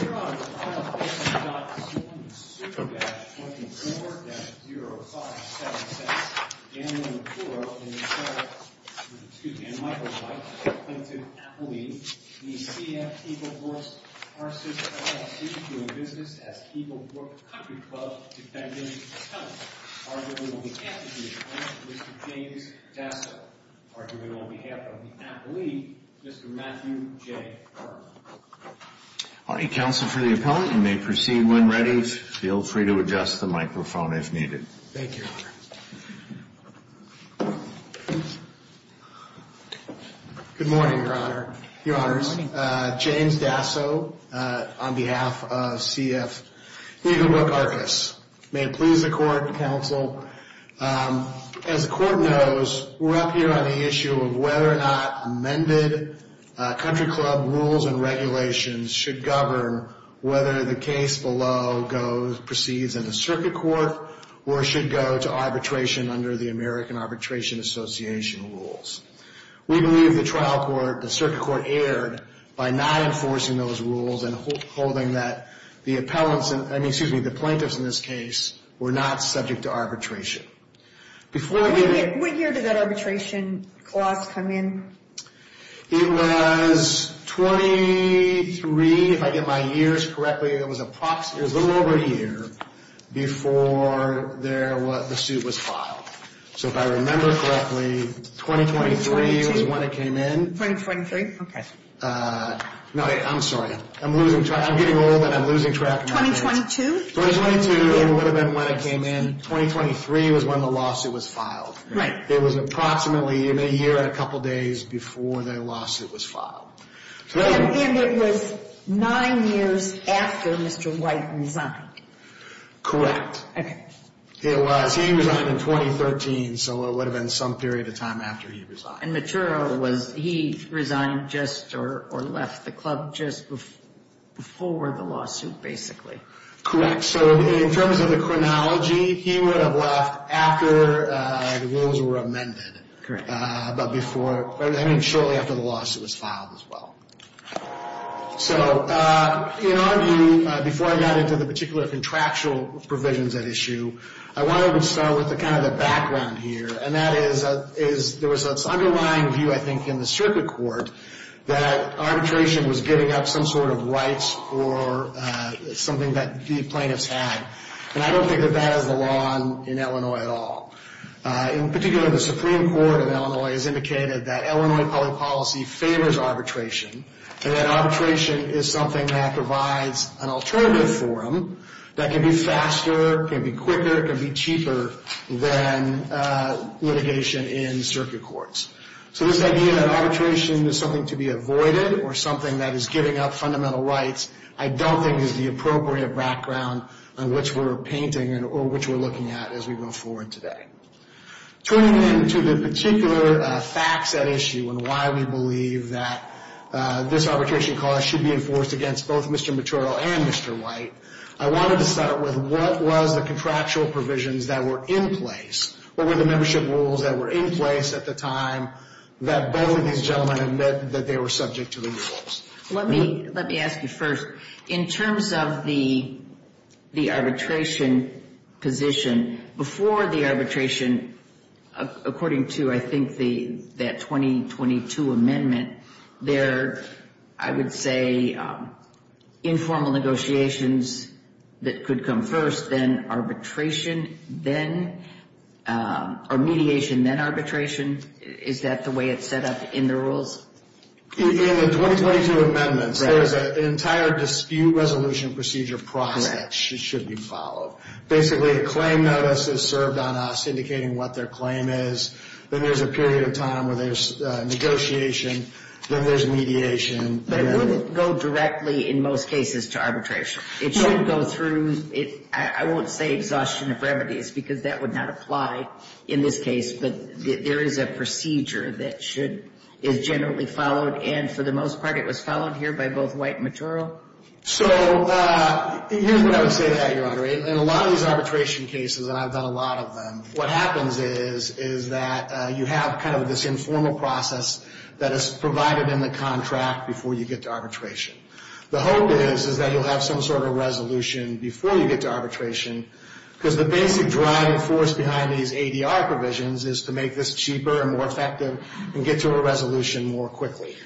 Here on file A.C. Superdash 24-0577, Dan Macuro and Michael White, plaintiff, Appellee v. CF Eagle Brook Arcis, LLC, doing business as Eagle Brook Country Club Defendant Attorney. Arguing on behalf of your client, Mr. James Dasso. Arguing on behalf of the appellee, Mr. Matthew J. Hartman. All right, counsel for the appellant, you may proceed when ready. Feel free to adjust the microphone if needed. Thank you, your honor. Good morning, your honor. Good morning. Your honors, James Dasso on behalf of CF Eagle Brook Arcis. May it please the court, counsel. As the court knows, we're up here on the issue of whether or not amended country club rules and regulations should govern whether the case below proceeds in the circuit court or should go to arbitration under the American Arbitration Association rules. We believe the circuit court erred by not enforcing those rules and holding that the plaintiffs in this case were not subject to arbitration. What year did that arbitration clause come in? It was 23, if I get my years correctly, it was a little over a year before the suit was filed. So if I remember correctly, 2023 was when it came in. 2023, okay. No, I'm sorry. I'm losing track. I'm getting old and I'm losing track. 2022? 2022 would have been when it came in. 2023 was when the lawsuit was filed. Right. It was approximately a year and a couple days before the lawsuit was filed. And it was nine years after Mr. White resigned. Correct. Okay. It was. He resigned in 2013, so it would have been some period of time after he resigned. And Matura, was he resigned just or left the club just before the lawsuit basically? Correct. So in terms of the chronology, he would have left after the rules were amended. Correct. But before, I mean shortly after the lawsuit was filed as well. So in our view, before I got into the particular contractual provisions at issue, I wanted to start with kind of the background here. And that is there was this underlying view, I think, in the circuit court, that arbitration was giving up some sort of rights for something that the plaintiffs had. And I don't think that that is the law in Illinois at all. In particular, the Supreme Court of Illinois has indicated that Illinois public policy favors arbitration and that arbitration is something that provides an alternative for them that can be faster, can be quicker, can be cheaper than litigation in circuit courts. So this idea that arbitration is something to be avoided or something that is giving up fundamental rights I don't think is the appropriate background on which we're painting or which we're looking at as we move forward today. Turning then to the particular facts at issue and why we believe that this arbitration clause should be enforced against both Mr. Mottrell and Mr. White, I wanted to start with what was the contractual provisions that were in place? What were the membership rules that were in place at the time that both of these gentlemen admit that they were subject to the rules? Let me ask you first. In terms of the arbitration position, before the arbitration, according to, I think, that 2022 amendment, there are, I would say, informal negotiations that could come first, then arbitration, or mediation, then arbitration. Is that the way it's set up in the rules? In the 2022 amendments, there's an entire dispute resolution procedure process that should be followed. Basically, a claim notice is served on us indicating what their claim is, then there's a period of time where there's negotiation, then there's mediation. But it wouldn't go directly, in most cases, to arbitration. It should go through, I won't say exhaustion of remedies because that would not apply in this case, but there is a procedure that is generally followed, and for the most part, it was followed here by both White and Mottoro. So here's what I would say to that, Your Honor. In a lot of these arbitration cases, and I've done a lot of them, what happens is that you have kind of this informal process that is provided in the contract before you get to arbitration. The hope is that you'll have some sort of resolution before you get to arbitration because the basic driving force behind these ADR provisions is to make this cheaper and more effective and get to a resolution more quickly.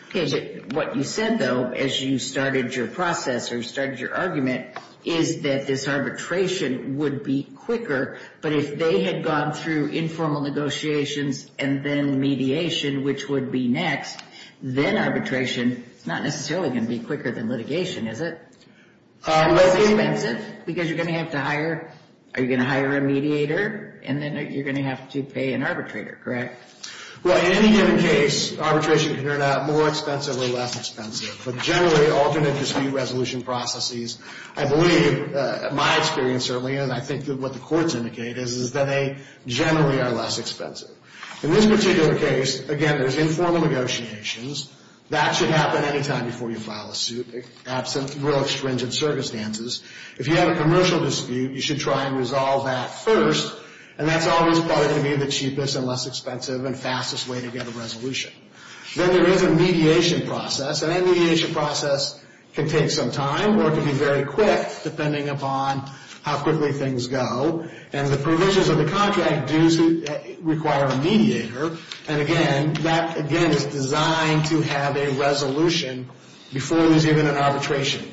What you said, though, as you started your process or started your argument, is that this arbitration would be quicker, but if they had gone through informal negotiations and then mediation, which would be next, then arbitration is not necessarily going to be quicker than litigation, is it? Less expensive because you're going to have to hire, are you going to hire a mediator, and then you're going to have to pay an arbitrator, correct? Well, in any given case, arbitration can turn out more expensive or less expensive, but generally, alternate dispute resolution processes, I believe, my experience certainly, and I think what the courts indicate is that they generally are less expensive. In this particular case, again, there's informal negotiations. That should happen any time before you file a suit, absent real extrinsic circumstances. If you have a commercial dispute, you should try and resolve that first, and that's always probably going to be the cheapest and less expensive and fastest way to get a resolution. Then there is a mediation process, and that mediation process can take some time or it can be very quick, depending upon how quickly things go, and the provisions of the contract do require a mediator, and again, that, again, is designed to have a resolution before there's even an arbitration.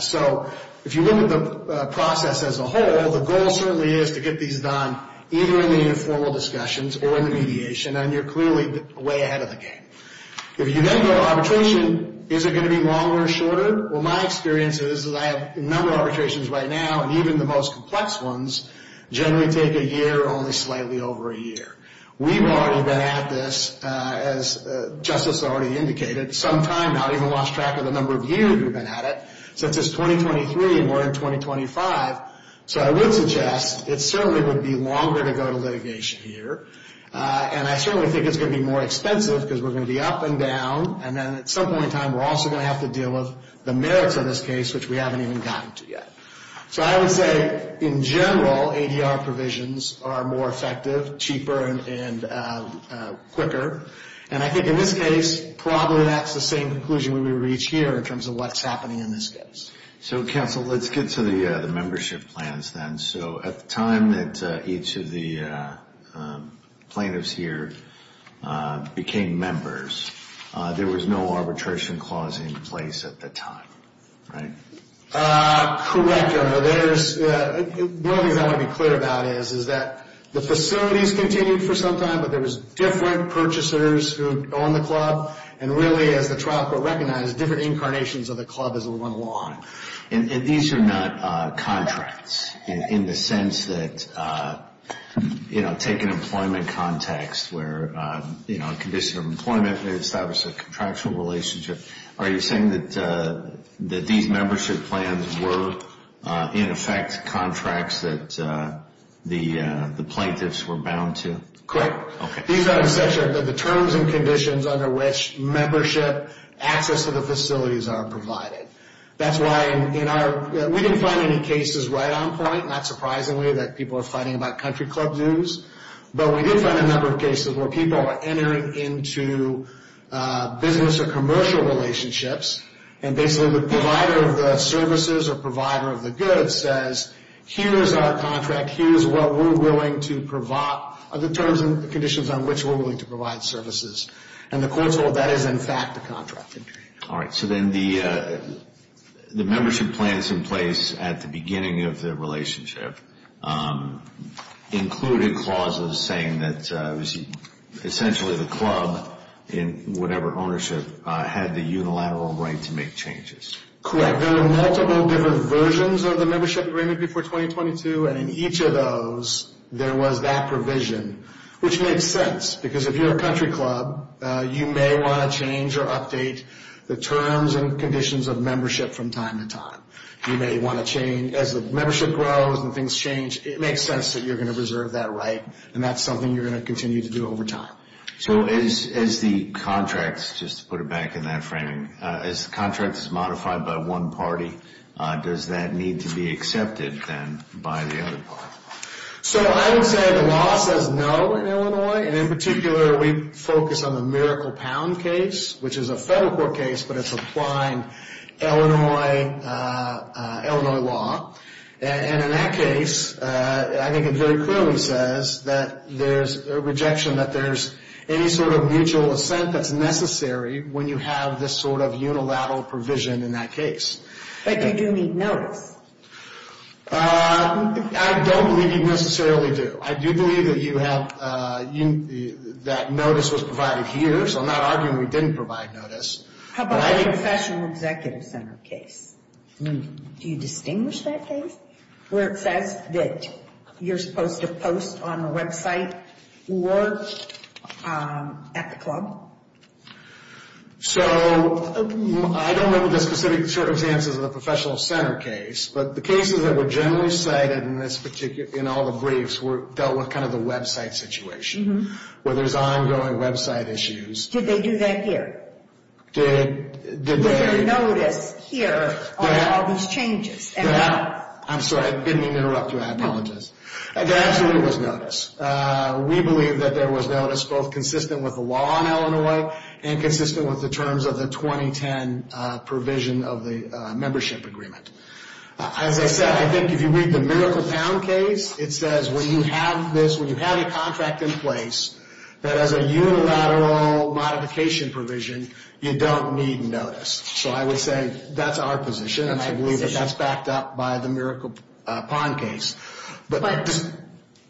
So if you look at the process as a whole, the goal certainly is to get these done either in the informal discussions or in the mediation, and you're clearly way ahead of the game. If you then go arbitration, is it going to be longer or shorter? Well, my experience is that I have a number of arbitrations right now, and even the most complex ones generally take a year or only slightly over a year. We've already been at this, as Justice already indicated, some time now. I even lost track of the number of years we've been at it, since it's 2023 and we're in 2025. So I would suggest it certainly would be longer to go to litigation here, and I certainly think it's going to be more expensive because we're going to be up and down, and then at some point in time, we're also going to have to deal with the merits of this case, which we haven't even gotten to yet. So I would say, in general, ADR provisions are more effective, cheaper, and quicker, and I think in this case, probably that's the same conclusion we would reach here in terms of what's happening in this case. So, counsel, let's get to the membership plans then. So at the time that each of the plaintiffs here became members, there was no arbitration clause in place at the time, right? Correct, Your Honor. One of the things I want to be clear about is that the facilities continued for some time, but there was different purchasers who owned the club, and really, as the trial court recognized, different incarnations of the club as it went along. And these are not contracts in the sense that, you know, take an employment context where, you know, on condition of employment, they establish a contractual relationship. Are you saying that these membership plans were, in effect, contracts that the plaintiffs were bound to? Correct. Okay. These are in the terms and conditions under which membership access to the facilities are provided. That's why in our – we didn't find any cases right on point, not surprisingly that people are fighting about country club dues, but we did find a number of cases where people are entering into business or commercial relationships, and basically the provider of the services or provider of the goods says, here is our contract, here is what we're willing to provide, are the terms and conditions on which we're willing to provide services. And the courts hold that is, in fact, a contract injury. All right. So then the membership plans in place at the beginning of the relationship included clauses saying that, essentially, the club in whatever ownership had the unilateral right to make changes. Correct. There were multiple different versions of the membership agreement before 2022, and in each of those there was that provision, which makes sense, because if you're a country club, you may want to change or update the terms and conditions of membership from time to time. You may want to change – as the membership grows and things change, it makes sense that you're going to reserve that right, and that's something you're going to continue to do over time. So as the contracts, just to put it back in that framing, as the contract is modified by one party, does that need to be accepted then by the other party? So I would say the law says no in Illinois, and in particular we focus on the Miracle Pound case, which is a federal court case, but it's applying Illinois law. And in that case, I think it very clearly says that there's a rejection that there's any sort of mutual assent that's necessary when you have this sort of unilateral provision in that case. But you do need notice. I don't believe you necessarily do. I do believe that you have – that notice was provided here, so I'm not arguing we didn't provide notice. How about the professional executive center case? Do you distinguish that case where it says that you're supposed to post on the website or at the club? So I don't remember the specific circumstances of the professional center case, but the cases that were generally cited in all the briefs dealt with kind of the website situation, where there's ongoing website issues. Did they do that here? Did they? Was there notice here on all these changes? I'm sorry, I didn't mean to interrupt you. I apologize. There absolutely was notice. We believe that there was notice both consistent with the law in Illinois and consistent with the terms of the 2010 provision of the membership agreement. As I said, I think if you read the Miracle Pound case, it says when you have this, when you have a contract in place, that as a unilateral modification provision, you don't need notice. So I would say that's our position, and I believe that that's backed up by the Miracle Pond case.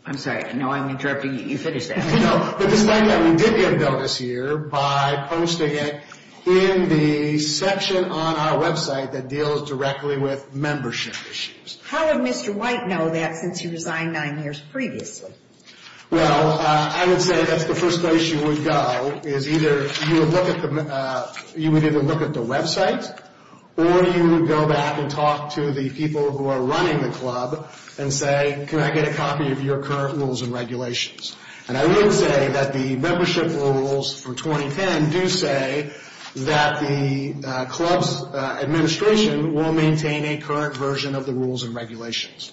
I'm sorry, I know I'm interrupting you. You finish that. No, but despite that, we did get notice here by posting it in the section on our website that deals directly with membership issues. How did Mr. White know that since he resigned nine years previously? Well, I would say that's the first place you would go is either you would look at the website or you would go back and talk to the people who are running the club and say, can I get a copy of your current rules and regulations? And I would say that the membership rules for 2010 do say that the club's administration will maintain a current version of the rules and regulations.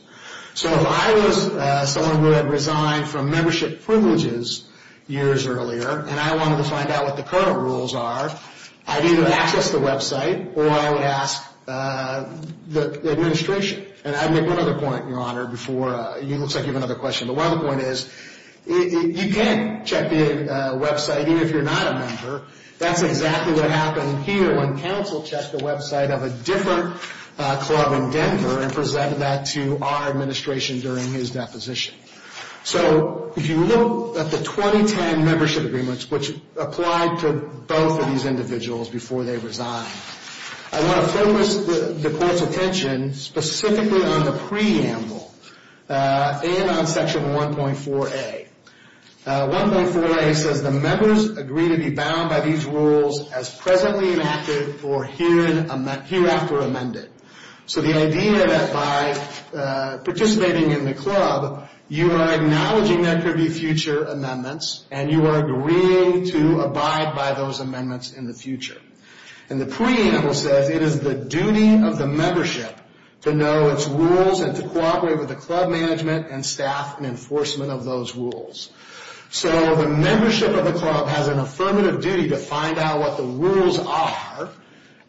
So if I was someone who had resigned from membership privileges years earlier and I wanted to find out what the current rules are, I'd either access the website or I would ask the administration. And I'd make one other point, Your Honor, before it looks like you have another question. But one other point is you can check the website even if you're not a member. That's exactly what happened here when counsel checked the website of a different club in Denver and presented that to our administration during his deposition. So if you look at the 2010 membership agreements, which applied to both of these individuals before they resigned, I want to focus the Court's attention specifically on the preamble and on Section 1.4a. 1.4a says the members agree to be bound by these rules as presently enacted or hereafter amended. So the idea that by participating in the club, you are acknowledging there could be future amendments and you are agreeing to abide by those amendments in the future. And the preamble says it is the duty of the membership to know its rules and to cooperate with the club management and staff in enforcement of those rules. So the membership of the club has an affirmative duty to find out what the rules are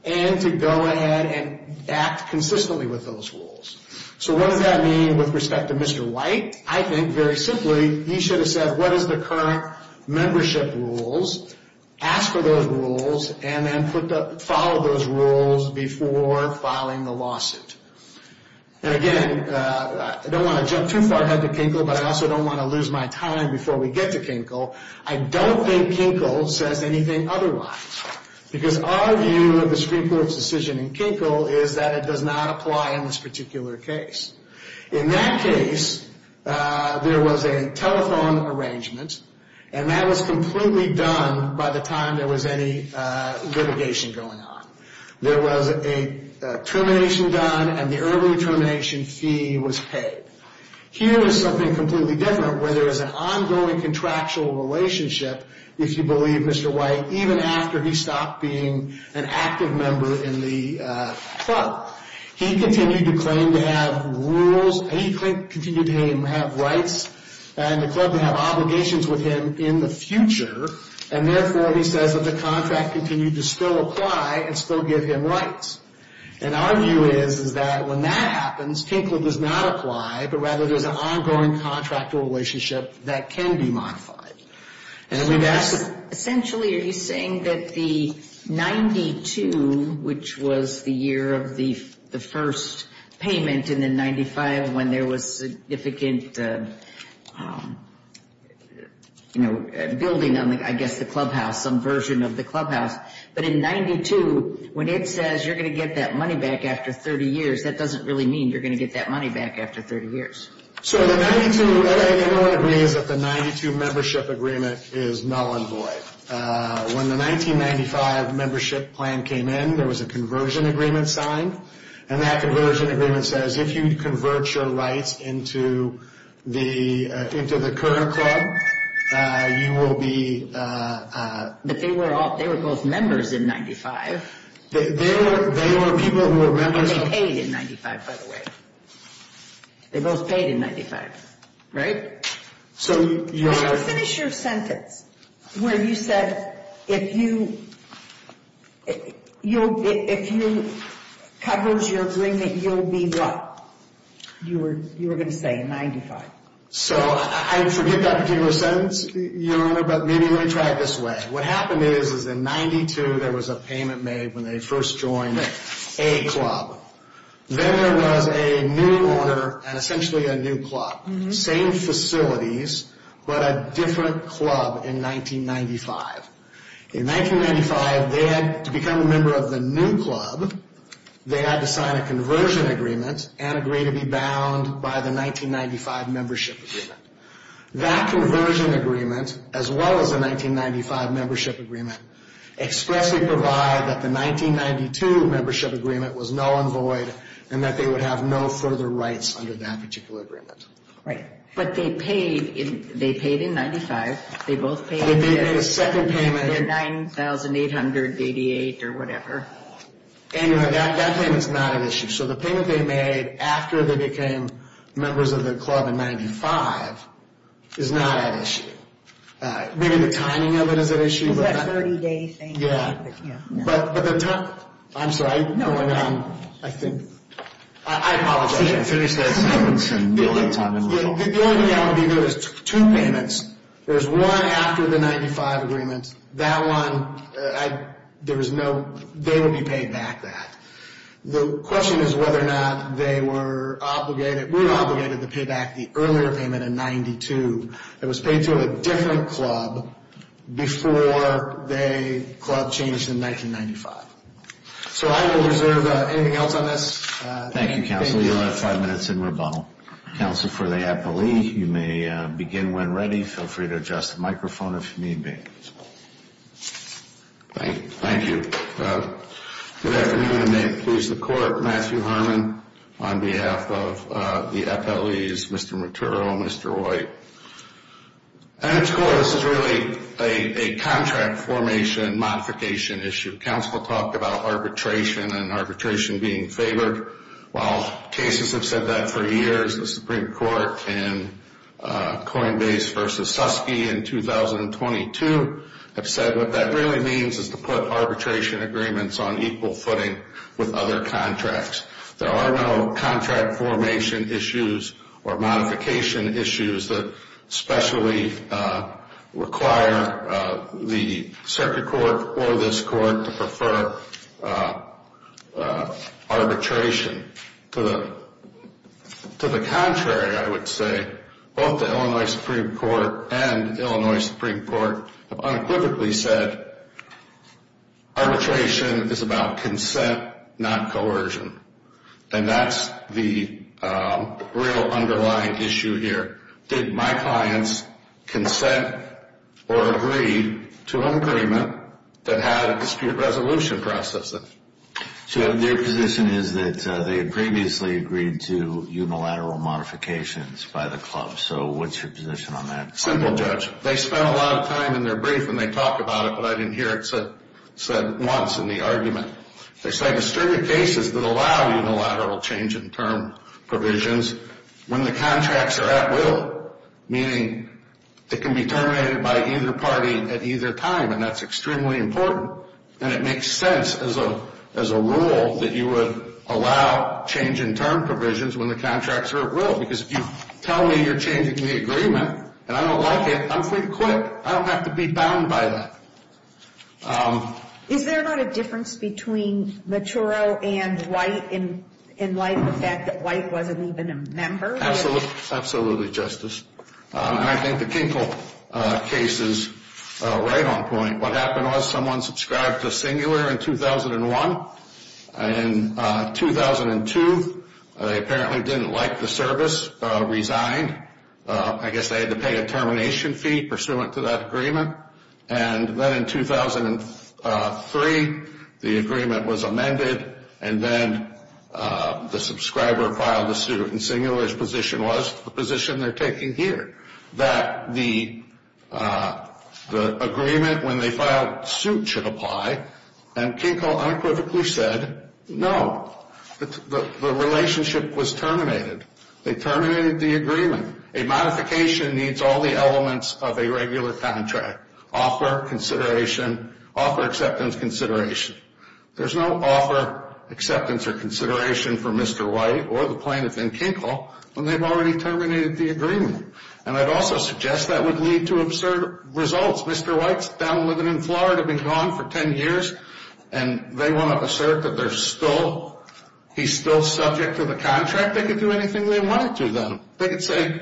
and to go ahead and act consistently with those rules. So what does that mean with respect to Mr. White? I think, very simply, he should have said what is the current membership rules, asked for those rules, and then followed those rules before filing the lawsuit. And again, I don't want to jump too far ahead to Kinkle, but I also don't want to lose my time before we get to Kinkle. I don't think Kinkle says anything otherwise. Because our view of the Supreme Court's decision in Kinkle is that it does not apply in this particular case. In that case, there was a telephone arrangement, and that was completely done by the time there was any litigation going on. There was a termination done, and the early termination fee was paid. Here is something completely different, where there is an ongoing contractual relationship, if you believe Mr. White, even after he stopped being an active member in the club. He continued to claim to have rules, and he continued to have rights in the club to have obligations with him in the future, and therefore he says that the contract continued to still apply and still give him rights. And our view is that when that happens, Kinkle does not apply, but rather there is an ongoing contractual relationship that can be modified. Essentially, are you saying that the 92, which was the year of the first payment in the 95, when there was significant building on, I guess, the clubhouse, some version of the clubhouse, but in 92, when it says you're going to get that money back after 30 years, that doesn't really mean you're going to get that money back after 30 years. So the 92, everyone agrees that the 92 membership agreement is null and void. When the 1995 membership plan came in, there was a conversion agreement signed, and that conversion agreement says if you convert your rights into the current club, you will be... But they were both members in 95. They were people who were members... And they paid in 95, by the way. They both paid in 95, right? So, Your Honor... How do you finish your sentence where you said, if you covers your agreement, you'll be what? You were going to say in 95. So I forget that particular sentence, Your Honor, but maybe let me try it this way. What happened is, is in 92, there was a payment made when they first joined a club. Then there was a new owner and essentially a new club. Same facilities, but a different club in 1995. In 1995, to become a member of the new club, they had to sign a conversion agreement and agree to be bound by the 1995 membership agreement. That conversion agreement, as well as the 1995 membership agreement, expressly provide that the 1992 membership agreement was null and void and that they would have no further rights under that particular agreement. But they paid in 95. They both paid in their 9,888 or whatever. Anyway, that payment's not at issue. So the payment they made after they became members of the club in 95 is not at issue. Maybe the timing of it is at issue. Is that a 30-day thing? But the time – I'm sorry. No, no. I apologize. Finish that sentence. The only thing that would be good is two payments. There's one after the 95 agreement. That one, there was no – they would be paid back that. The question is whether or not they were obligated – were obligated to pay back the earlier payment in 92 that was paid to a different club before the club changed in 1995. So I will reserve anything else on this. Thank you, counsel. You'll have five minutes in rebuttal. Counsel for the appellee, you may begin when ready. Feel free to adjust the microphone if you need me. Thank you. Good afternoon, and may it please the Court. Matthew Harmon on behalf of the appellees, Mr. Motturo, Mr. White. And, of course, this is really a contract formation modification issue. Counsel will talk about arbitration and arbitration being favored. While cases have said that for years, the Supreme Court in Coinbase v. Suskie in 2022 have said what that really means is to put arbitration agreements on equal footing with other contracts. There are no contract formation issues or modification issues that specially require the circuit court or this court to prefer arbitration. To the contrary, I would say, both the Illinois Supreme Court and the Illinois Supreme Court have unequivocally said arbitration is about consent, not coercion. And that's the real underlying issue here. Did my clients consent or agree to an agreement that had a dispute resolution process in it? So their position is that they had previously agreed to unilateral modifications by the club. So what's your position on that? Simple, Judge. They spent a lot of time in their brief, and they talked about it, but I didn't hear it said once in the argument. They say the circuit case is to allow unilateral change in term provisions when the contracts are at will, meaning it can be terminated by either party at either time, and that's extremely important. And it makes sense as a rule that you would allow change in term provisions when the contracts are at will because if you tell me you're changing the agreement and I don't like it, I'm free to quit. I don't have to be bound by that. Is there not a difference between Machuro and White in light of the fact that White wasn't even a member? Absolutely, Justice. And I think the Kinkle case is right on point. What happened was someone subscribed to Singular in 2001. In 2002, they apparently didn't like the service, resigned. I guess they had to pay a termination fee pursuant to that agreement. And then in 2003, the agreement was amended, and then the subscriber filed a suit, and Singular's position was the position they're taking here, that the agreement when they filed the suit should apply, and Kinkle unequivocally said no. The relationship was terminated. They terminated the agreement. A modification needs all the elements of a regular contract, offer, consideration, offer, acceptance, consideration. There's no offer, acceptance, or consideration for Mr. White or the plaintiff in Kinkle when they've already terminated the agreement. And I'd also suggest that would lead to absurd results. Mr. White's down living in Florida, been gone for 10 years, and they want to assert that he's still subject to the contract. They could do anything they wanted to them. They could say,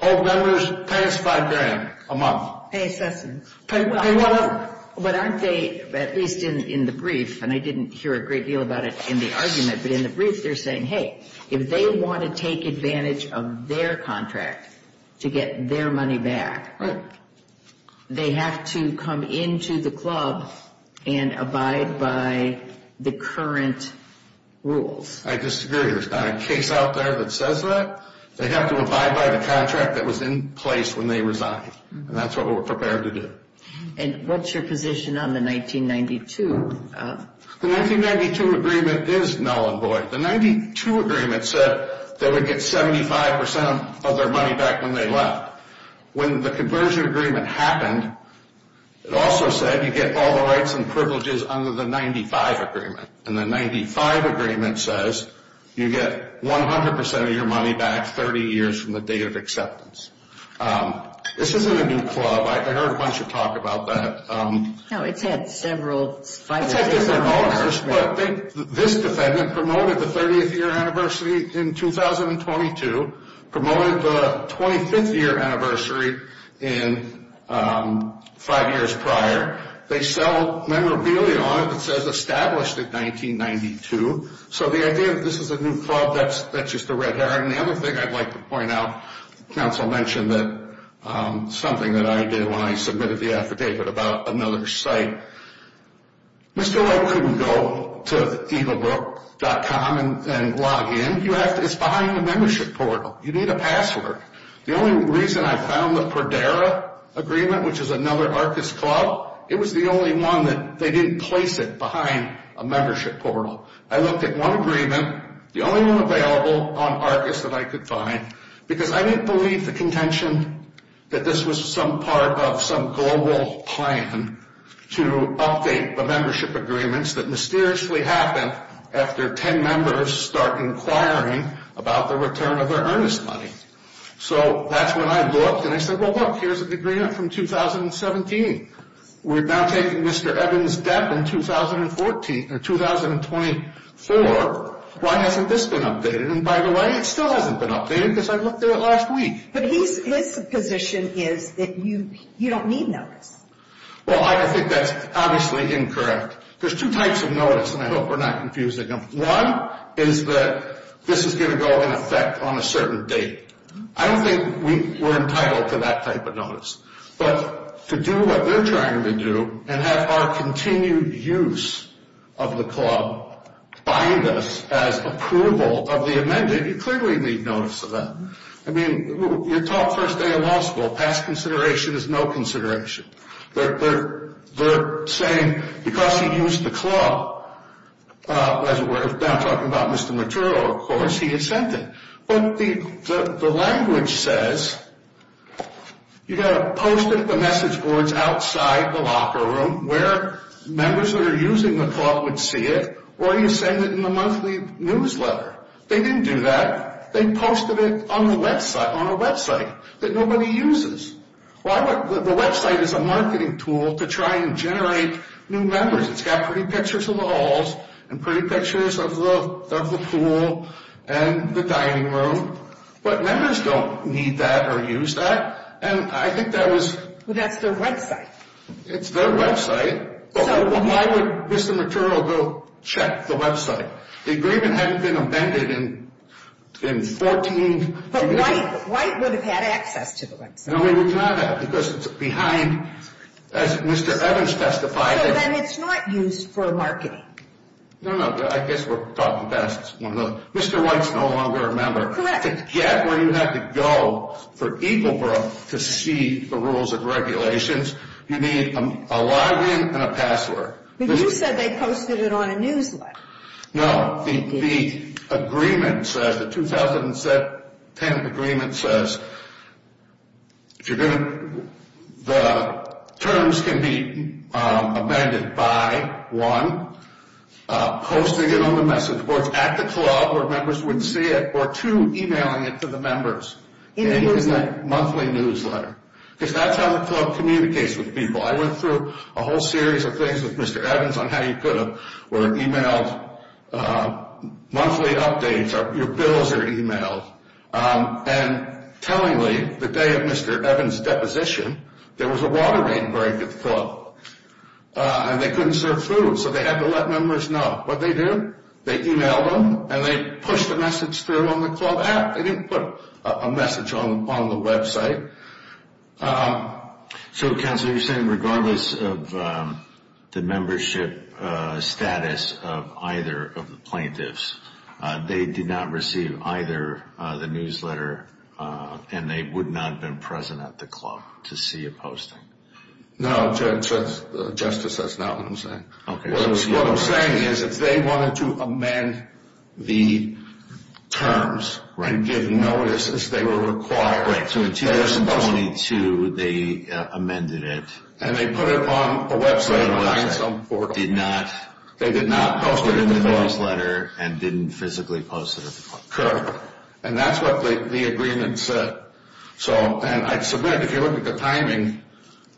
oh, members, pay us 5 grand a month. Pay assessments. But aren't they, at least in the brief, and I didn't hear a great deal about it in the argument, but in the brief they're saying, hey, if they want to take advantage of their contract to get their money back, they have to come into the club and abide by the current rules. I disagree. There's not a case out there that says that. They have to abide by the contract that was in place when they resigned. And that's what we're prepared to do. And what's your position on the 1992? The 1992 agreement is null and void. The 92 agreement said they would get 75% of their money back when they left. When the conversion agreement happened, it also said you get all the rights and privileges under the 95 agreement. And the 95 agreement says you get 100% of your money back 30 years from the date of acceptance. This isn't a new club. I heard a bunch of talk about that. No, it's had several five years. It's had different owners, but this defendant promoted the 30th year anniversary in 2022, promoted the 25th year anniversary in five years prior. They sell memorabilia on it that says established in 1992. So the idea that this is a new club, that's just a red herring. The other thing I'd like to point out, counsel mentioned that something that I did when I submitted the affidavit about another site. Mr. White couldn't go to evilbrook.com and log in. It's behind the membership portal. You need a password. The only reason I found the Perdera agreement, which is another Arcus club, it was the only one that they didn't place it behind a membership portal. I looked at one agreement. The only one available on Arcus that I could find, because I didn't believe the contention that this was some part of some global plan to update the membership agreements that mysteriously happened after 10 members start inquiring about the return of their earnest money. So that's when I looked, and I said, well, look, here's an agreement from 2017. We're now taking Mr. Evans' debt in 2014 or 2024. Why hasn't this been updated? And by the way, it still hasn't been updated because I looked at it last week. But his position is that you don't need notice. Well, I think that's obviously incorrect. There's two types of notice, and I hope we're not confusing them. One is that this is going to go in effect on a certain date. I don't think we're entitled to that type of notice. But to do what they're trying to do and have our continued use of the club bind us as approval of the amendment, you clearly need notice of that. I mean, you're taught first day of law school, past consideration is no consideration. They're saying because he used the club, as we're now talking about Mr. Maturo, of course, he had sent it. But the language says you've got to post it at the message boards outside the locker room where members that are using the club would see it, or you send it in the monthly newsletter. They didn't do that. They posted it on a website that nobody uses. The website is a marketing tool to try and generate new members. It's got pretty pictures of the halls and pretty pictures of the pool and the dining room. But members don't need that or use that. And I think that was... But that's their website. It's their website. Why would Mr. Maturo go check the website? The agreement hadn't been amended in 14... But White would have had access to the website. No, he would not have because it's behind, as Mr. Evans testified... So then it's not used for marketing. No, no. I guess we're talking past one of those. Mr. White's no longer a member. Correct. To get where you have to go for Eagle Brook to see the rules and regulations, you need a login and a password. But you said they posted it on a newsletter. No. The agreement says, the 2010 agreement says the terms can be amended by, one, posting it on the message boards at the club where members would see it, or two, emailing it to the members in that monthly newsletter. Because that's how the club communicates with people. I went through a whole series of things with Mr. Evans on how you could have were emailed monthly updates, your bills are emailed, and tellingly, the day of Mr. Evans' deposition, there was a water main break at the club, and they couldn't serve food, so they had to let members know. What'd they do? They emailed them, and they pushed the message through on the club app. They didn't put a message on the website. So, Counselor, you're saying regardless of the membership status of either of the plaintiffs, they did not receive either the newsletter, and they would not have been present at the club to see it posted? No, Justice, that's not what I'm saying. Okay. What I'm saying is, if they wanted to amend the terms and give notice as they were required to in 2022, they amended it. And they put it on a website, but they did not post it in the newsletter and didn't physically post it at the club. Correct. And that's what the agreement said. And I submit, if you look at the timing,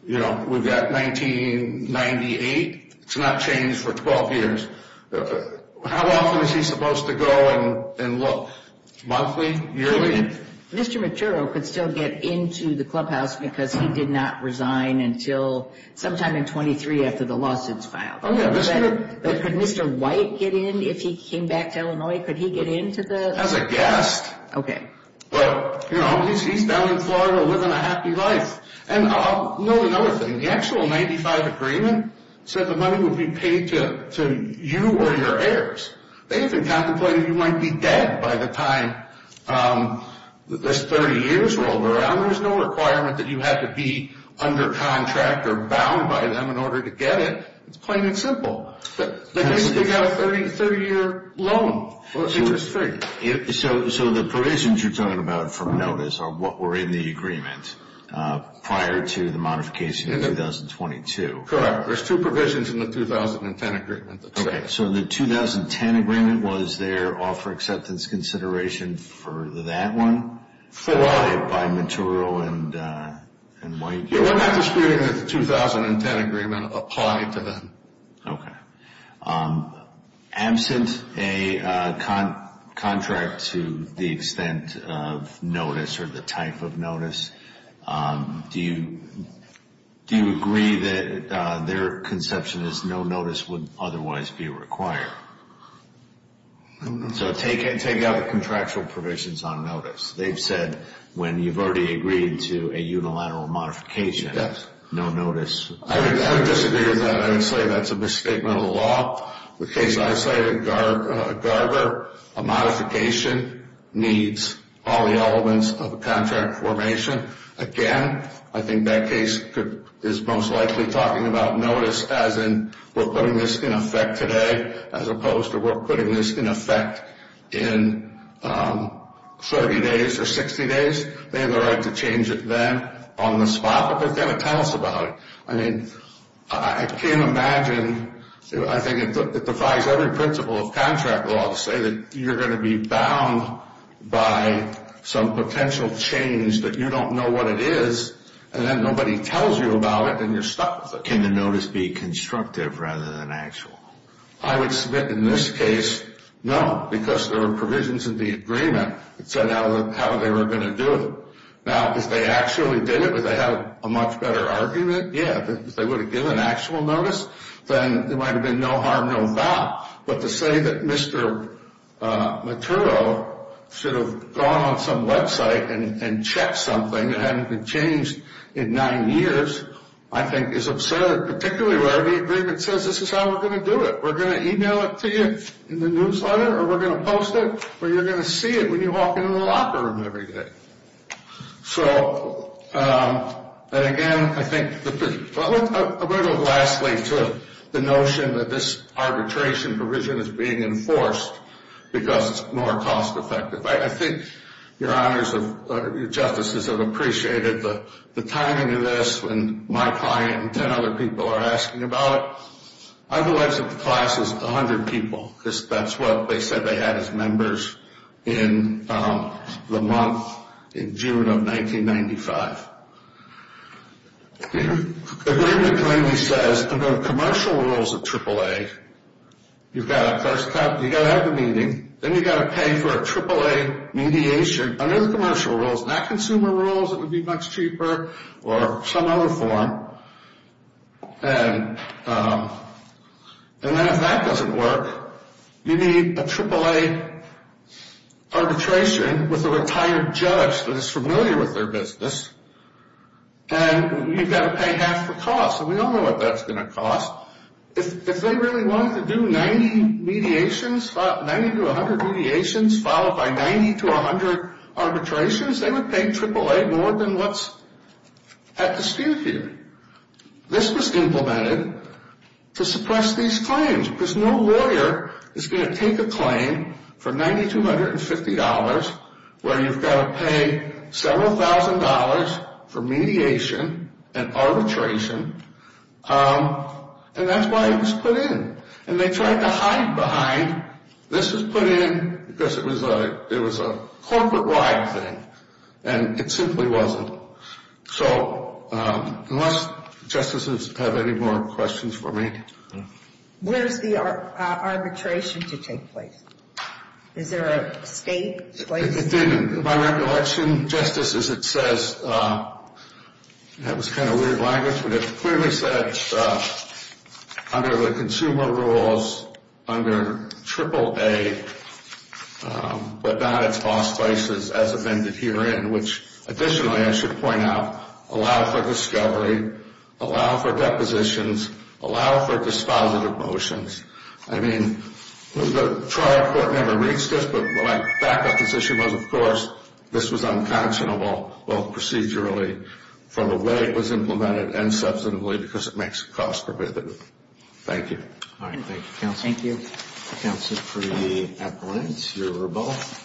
we've got 1998. It's not changed for 12 years. How often is he supposed to go and look? Monthly? Yearly? Mr. Machuro could still get into the clubhouse because he did not resign until sometime in 2023 after the lawsuits filed. Could Mr. White get in if he came back to Illinois? Could he get into the? As a guest. Okay. But, you know, he's down in Florida living a happy life. And another thing, the actual 95 agreement said the money would be paid to you or your heirs. They even contemplated you might be dead by the time this 30 years rolled around. There's no requirement that you have to be under contract or bound by them in order to get it. It's plain and simple. They got a 30-year loan. So the provisions you're talking about from notice are what were in the agreement prior to the modification in 2022. Correct. There's two provisions in the 2010 agreement that say. Okay. So the 2010 agreement, was there offer acceptance consideration for that one? Full audit by Machuro and White. We're not disputing that the 2010 agreement applied to them. Okay. Absent a contract to the extent of notice or the type of notice, do you agree that their conception is no notice would otherwise be required? So take out the contractual provisions on notice. They've said when you've already agreed to a unilateral modification, no notice. I would disagree with that. I would say that's a misstatement of the law. The case I cited, Garber, a modification needs all the elements of a contract formation. Again, I think that case is most likely talking about notice as in we're putting this in effect today, as opposed to we're putting this in effect in 30 days or 60 days. They have the right to change it then on the spot, but they're going to tell us about it. I mean, I can't imagine. I think it defies every principle of contract law to say that you're going to be bound by some potential change that you don't know what it is, and then nobody tells you about it, and you're stuck with it. Can the notice be constructive rather than actual? I would submit in this case, no, because there are provisions in the agreement that said how they were going to do it. Now, if they actually did it, would they have a much better argument? Yeah. If they would have given actual notice, then there might have been no harm, no foul. But to say that Mr. Matero should have gone on some website and checked something that hadn't been changed in nine years, I think is absurd, particularly where the agreement says this is how we're going to do it. We're going to e-mail it to you in the newsletter, or we're going to post it, or you're going to see it when you walk into the locker room every day. So, and again, I think, well, I want to go lastly to the notion that this arbitration provision is being enforced because it's more cost effective. I think your honors, your justices have appreciated the timing of this, and my client and 10 other people are asking about it. I believe the class is 100 people. That's what they said they had as members in the month in June of 1995. The agreement clearly says under the commercial rules of AAA, you've got to have the meeting, then you've got to pay for a AAA mediation under the commercial rules, not consumer rules. It would be much cheaper or some other form. And then if that doesn't work, you need a AAA arbitration with a retired judge that is familiar with their business, and you've got to pay half the cost. And we all know what that's going to cost. If they really wanted to do 90 mediations, 90 to 100 mediations, followed by 90 to 100 arbitrations, they would pay AAA more than what's at dispute here. This was implemented to suppress these claims because no lawyer is going to take a claim for $9,250 where you've got to pay several thousand dollars for mediation and arbitration, and that's why it was put in. And they tried to hide behind this was put in because it was a corporate-wide thing, and it simply wasn't. So unless justices have any more questions for me. Where's the arbitration to take place? Is there a state place? It didn't. My recollection, just as it says, that was kind of weird language, but it clearly said under the consumer rules under AAA, but not its boss places as amended herein, which additionally I should point out allow for discovery, allow for depositions, allow for dispositive motions. I mean, the trial court never reached this, but the fact of this issue was, of course, this was unconscionable, both procedurally from the way it was implemented and substantively because it makes it cost-preventative. Thank you. All right. Thank you, counsel. Thank you. Counsel, for the appellants, you're both.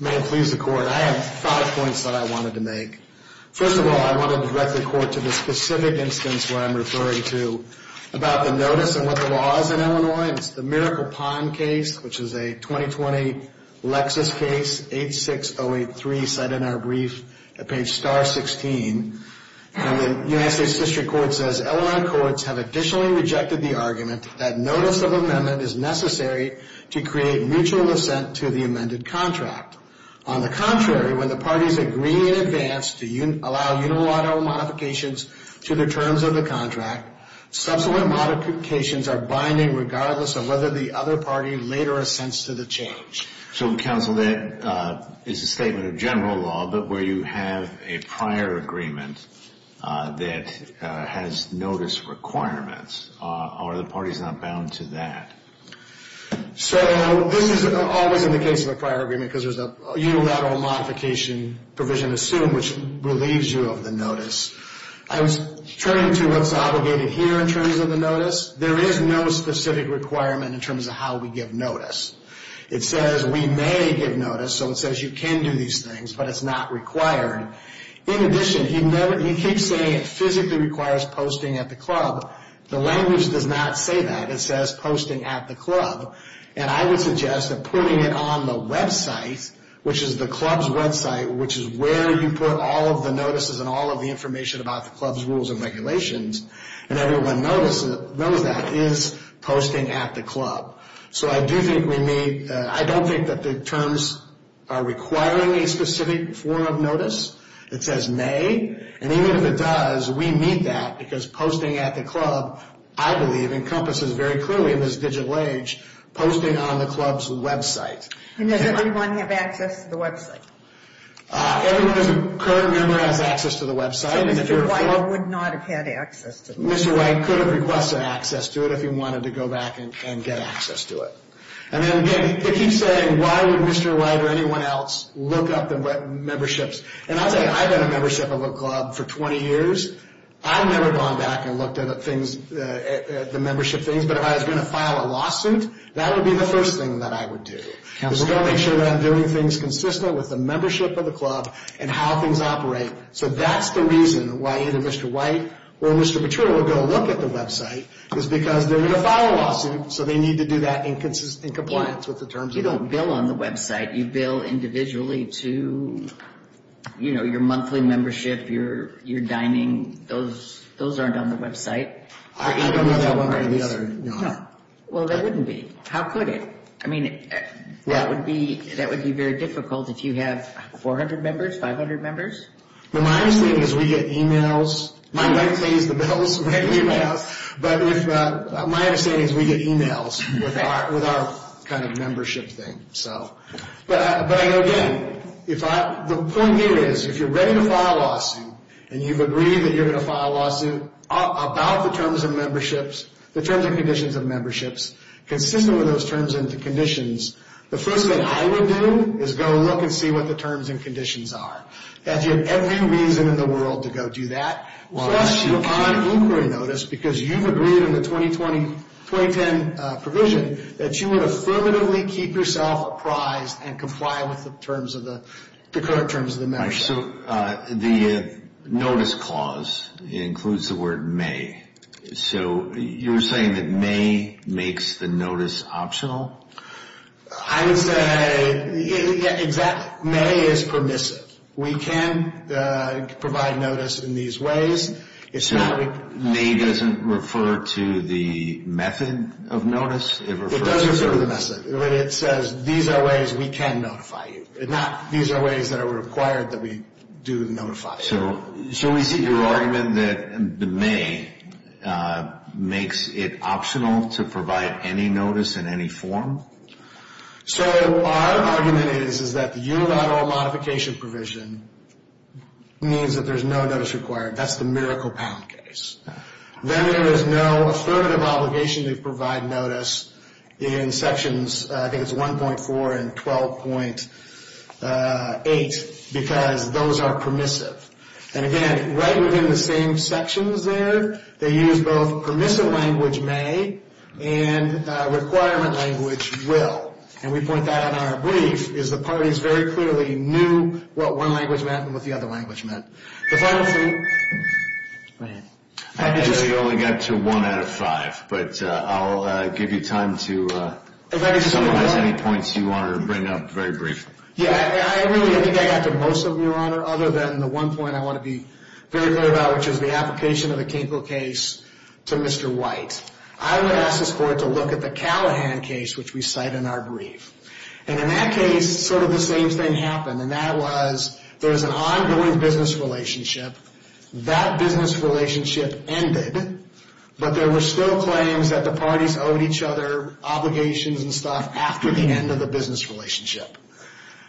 May it please the Court. I have five points that I wanted to make. First of all, I want to direct the Court to the specific instance where I'm referring to about the notice and what the law is in Illinois, and it's the Miracle Pond case, which is a 2020 Lexis case, 86083, cited in our brief at page star 16. And the United States District Court says, Illinois courts have additionally rejected the argument that notice of amendment is necessary to create mutual assent to the amended contract. On the contrary, when the parties agree in advance to allow unilateral modifications to the terms of the contract, subsequent modifications are binding regardless of whether the other party later assents to the change. So, counsel, that is a statement of general law, but where you have a prior agreement that has notice requirements, are the parties not bound to that? So, this is always in the case of a prior agreement because there's a unilateral modification provision assumed, which relieves you of the notice. I was turning to what's obligated here in terms of the notice. There is no specific requirement in terms of how we give notice. It says we may give notice, so it says you can do these things, but it's not required. In addition, he keeps saying it physically requires posting at the club. The language does not say that. It says posting at the club, and I would suggest that putting it on the website, which is the club's website, which is where you put all of the notices and all of the information about the club's rules and regulations, and everyone knows that, is posting at the club. So, I do think we need, I don't think that the terms are requiring a specific form of notice. It says may, and even if it does, we need that because posting at the club, I believe, encompasses very clearly in this digital age, posting on the club's website. And does everyone have access to the website? Everyone as a current member has access to the website. So, Mr. White would not have had access to the website? Mr. White could have requested access to it if he wanted to go back and get access to it. And then, again, he keeps saying, why would Mr. White or anyone else look up the memberships? And I'll tell you, I've had a membership of a club for 20 years. I've never gone back and looked at the membership things, but if I was going to file a lawsuit, that would be the first thing that I would do. I'm going to make sure that I'm doing things consistent with the membership of the club and how things operate. So, that's the reason why either Mr. White or Mr. Petrua would go look at the website, is because they're going to file a lawsuit, so they need to do that in compliance with the terms of the law. You don't bill on the website. You bill individually to, you know, your monthly membership, your dining. Those aren't on the website. I don't know that one way or the other. Well, they wouldn't be. How could it? I mean, that would be very difficult if you have 400 members, 500 members. Well, my understanding is we get e-mails. My wife pays the bills, but my understanding is we get e-mails with our kind of membership thing. But I know, again, the point here is if you're ready to file a lawsuit and you've agreed that you're going to file a lawsuit about the terms of memberships, the terms and conditions of memberships, consistent with those terms and conditions, the first thing I would do is go look and see what the terms and conditions are. You have every reason in the world to go do that. Plus, you're on inquiry notice because you've agreed in the 2020-2010 provision that you would affirmatively keep yourself apprised and comply with the current terms of the membership. So the notice clause includes the word may. So you're saying that may makes the notice optional? I would say may is permissive. We can provide notice in these ways. So may doesn't refer to the method of notice? It does refer to the method, but it says these are ways we can notify you, not these are ways that are required that we do notify you. So should we see your argument that the may makes it optional to provide any notice in any form? So our argument is that the unilateral modification provision means that there's no notice required. That's the miracle pound case. Then there is no affirmative obligation to provide notice in sections 1.4 and 12.8 because those are permissive. And again, right within the same sections there, they use both permissive language may and requirement language will. And we point that out in our brief, is the parties very clearly knew what one language meant and what the other language meant. I think we only got to one out of five, but I'll give you time to summarize any points you want to bring up very briefly. Yeah, I really think I got to most of them, Your Honor, other than the one point I want to be very clear about, which is the application of the Kinkle case to Mr. White. I would ask the court to look at the Callahan case, which we cite in our brief. And in that case, sort of the same thing happened, and that was there was an ongoing business relationship. That business relationship ended, but there were still claims that the parties owed each other obligations and stuff after the end of the business relationship.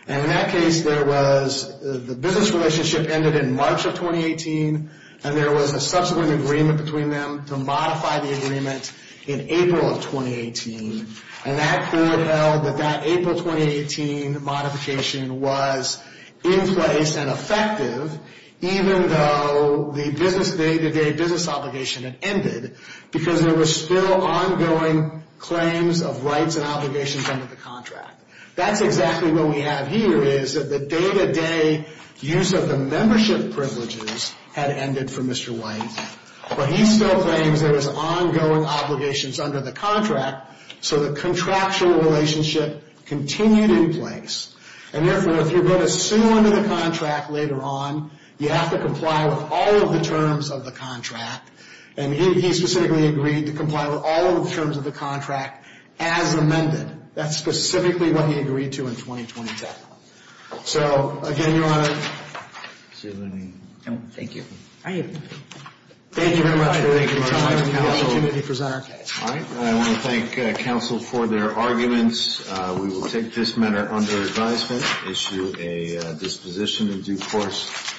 And in that case, the business relationship ended in March of 2018, and there was a subsequent agreement between them to modify the agreement in April of 2018. And that court held that that April 2018 modification was in place and effective, even though the business day-to-day business obligation had ended because there were still ongoing claims of rights and obligations under the contract. That's exactly what we have here, is that the day-to-day use of the membership privileges had ended for Mr. White, but he still claims there was ongoing obligations under the contract, so the contractual relationship continued in place. And therefore, if you're going to sue under the contract later on, you have to comply with all of the terms of the contract. And he specifically agreed to comply with all of the terms of the contract as amended. That's specifically what he agreed to in 2020. So, again, Your Honor. Thank you. Thank you very much. Thank you, counsel. I want to thank counsel for their arguments. We will take this matter under advisement, issue a disposition in due course.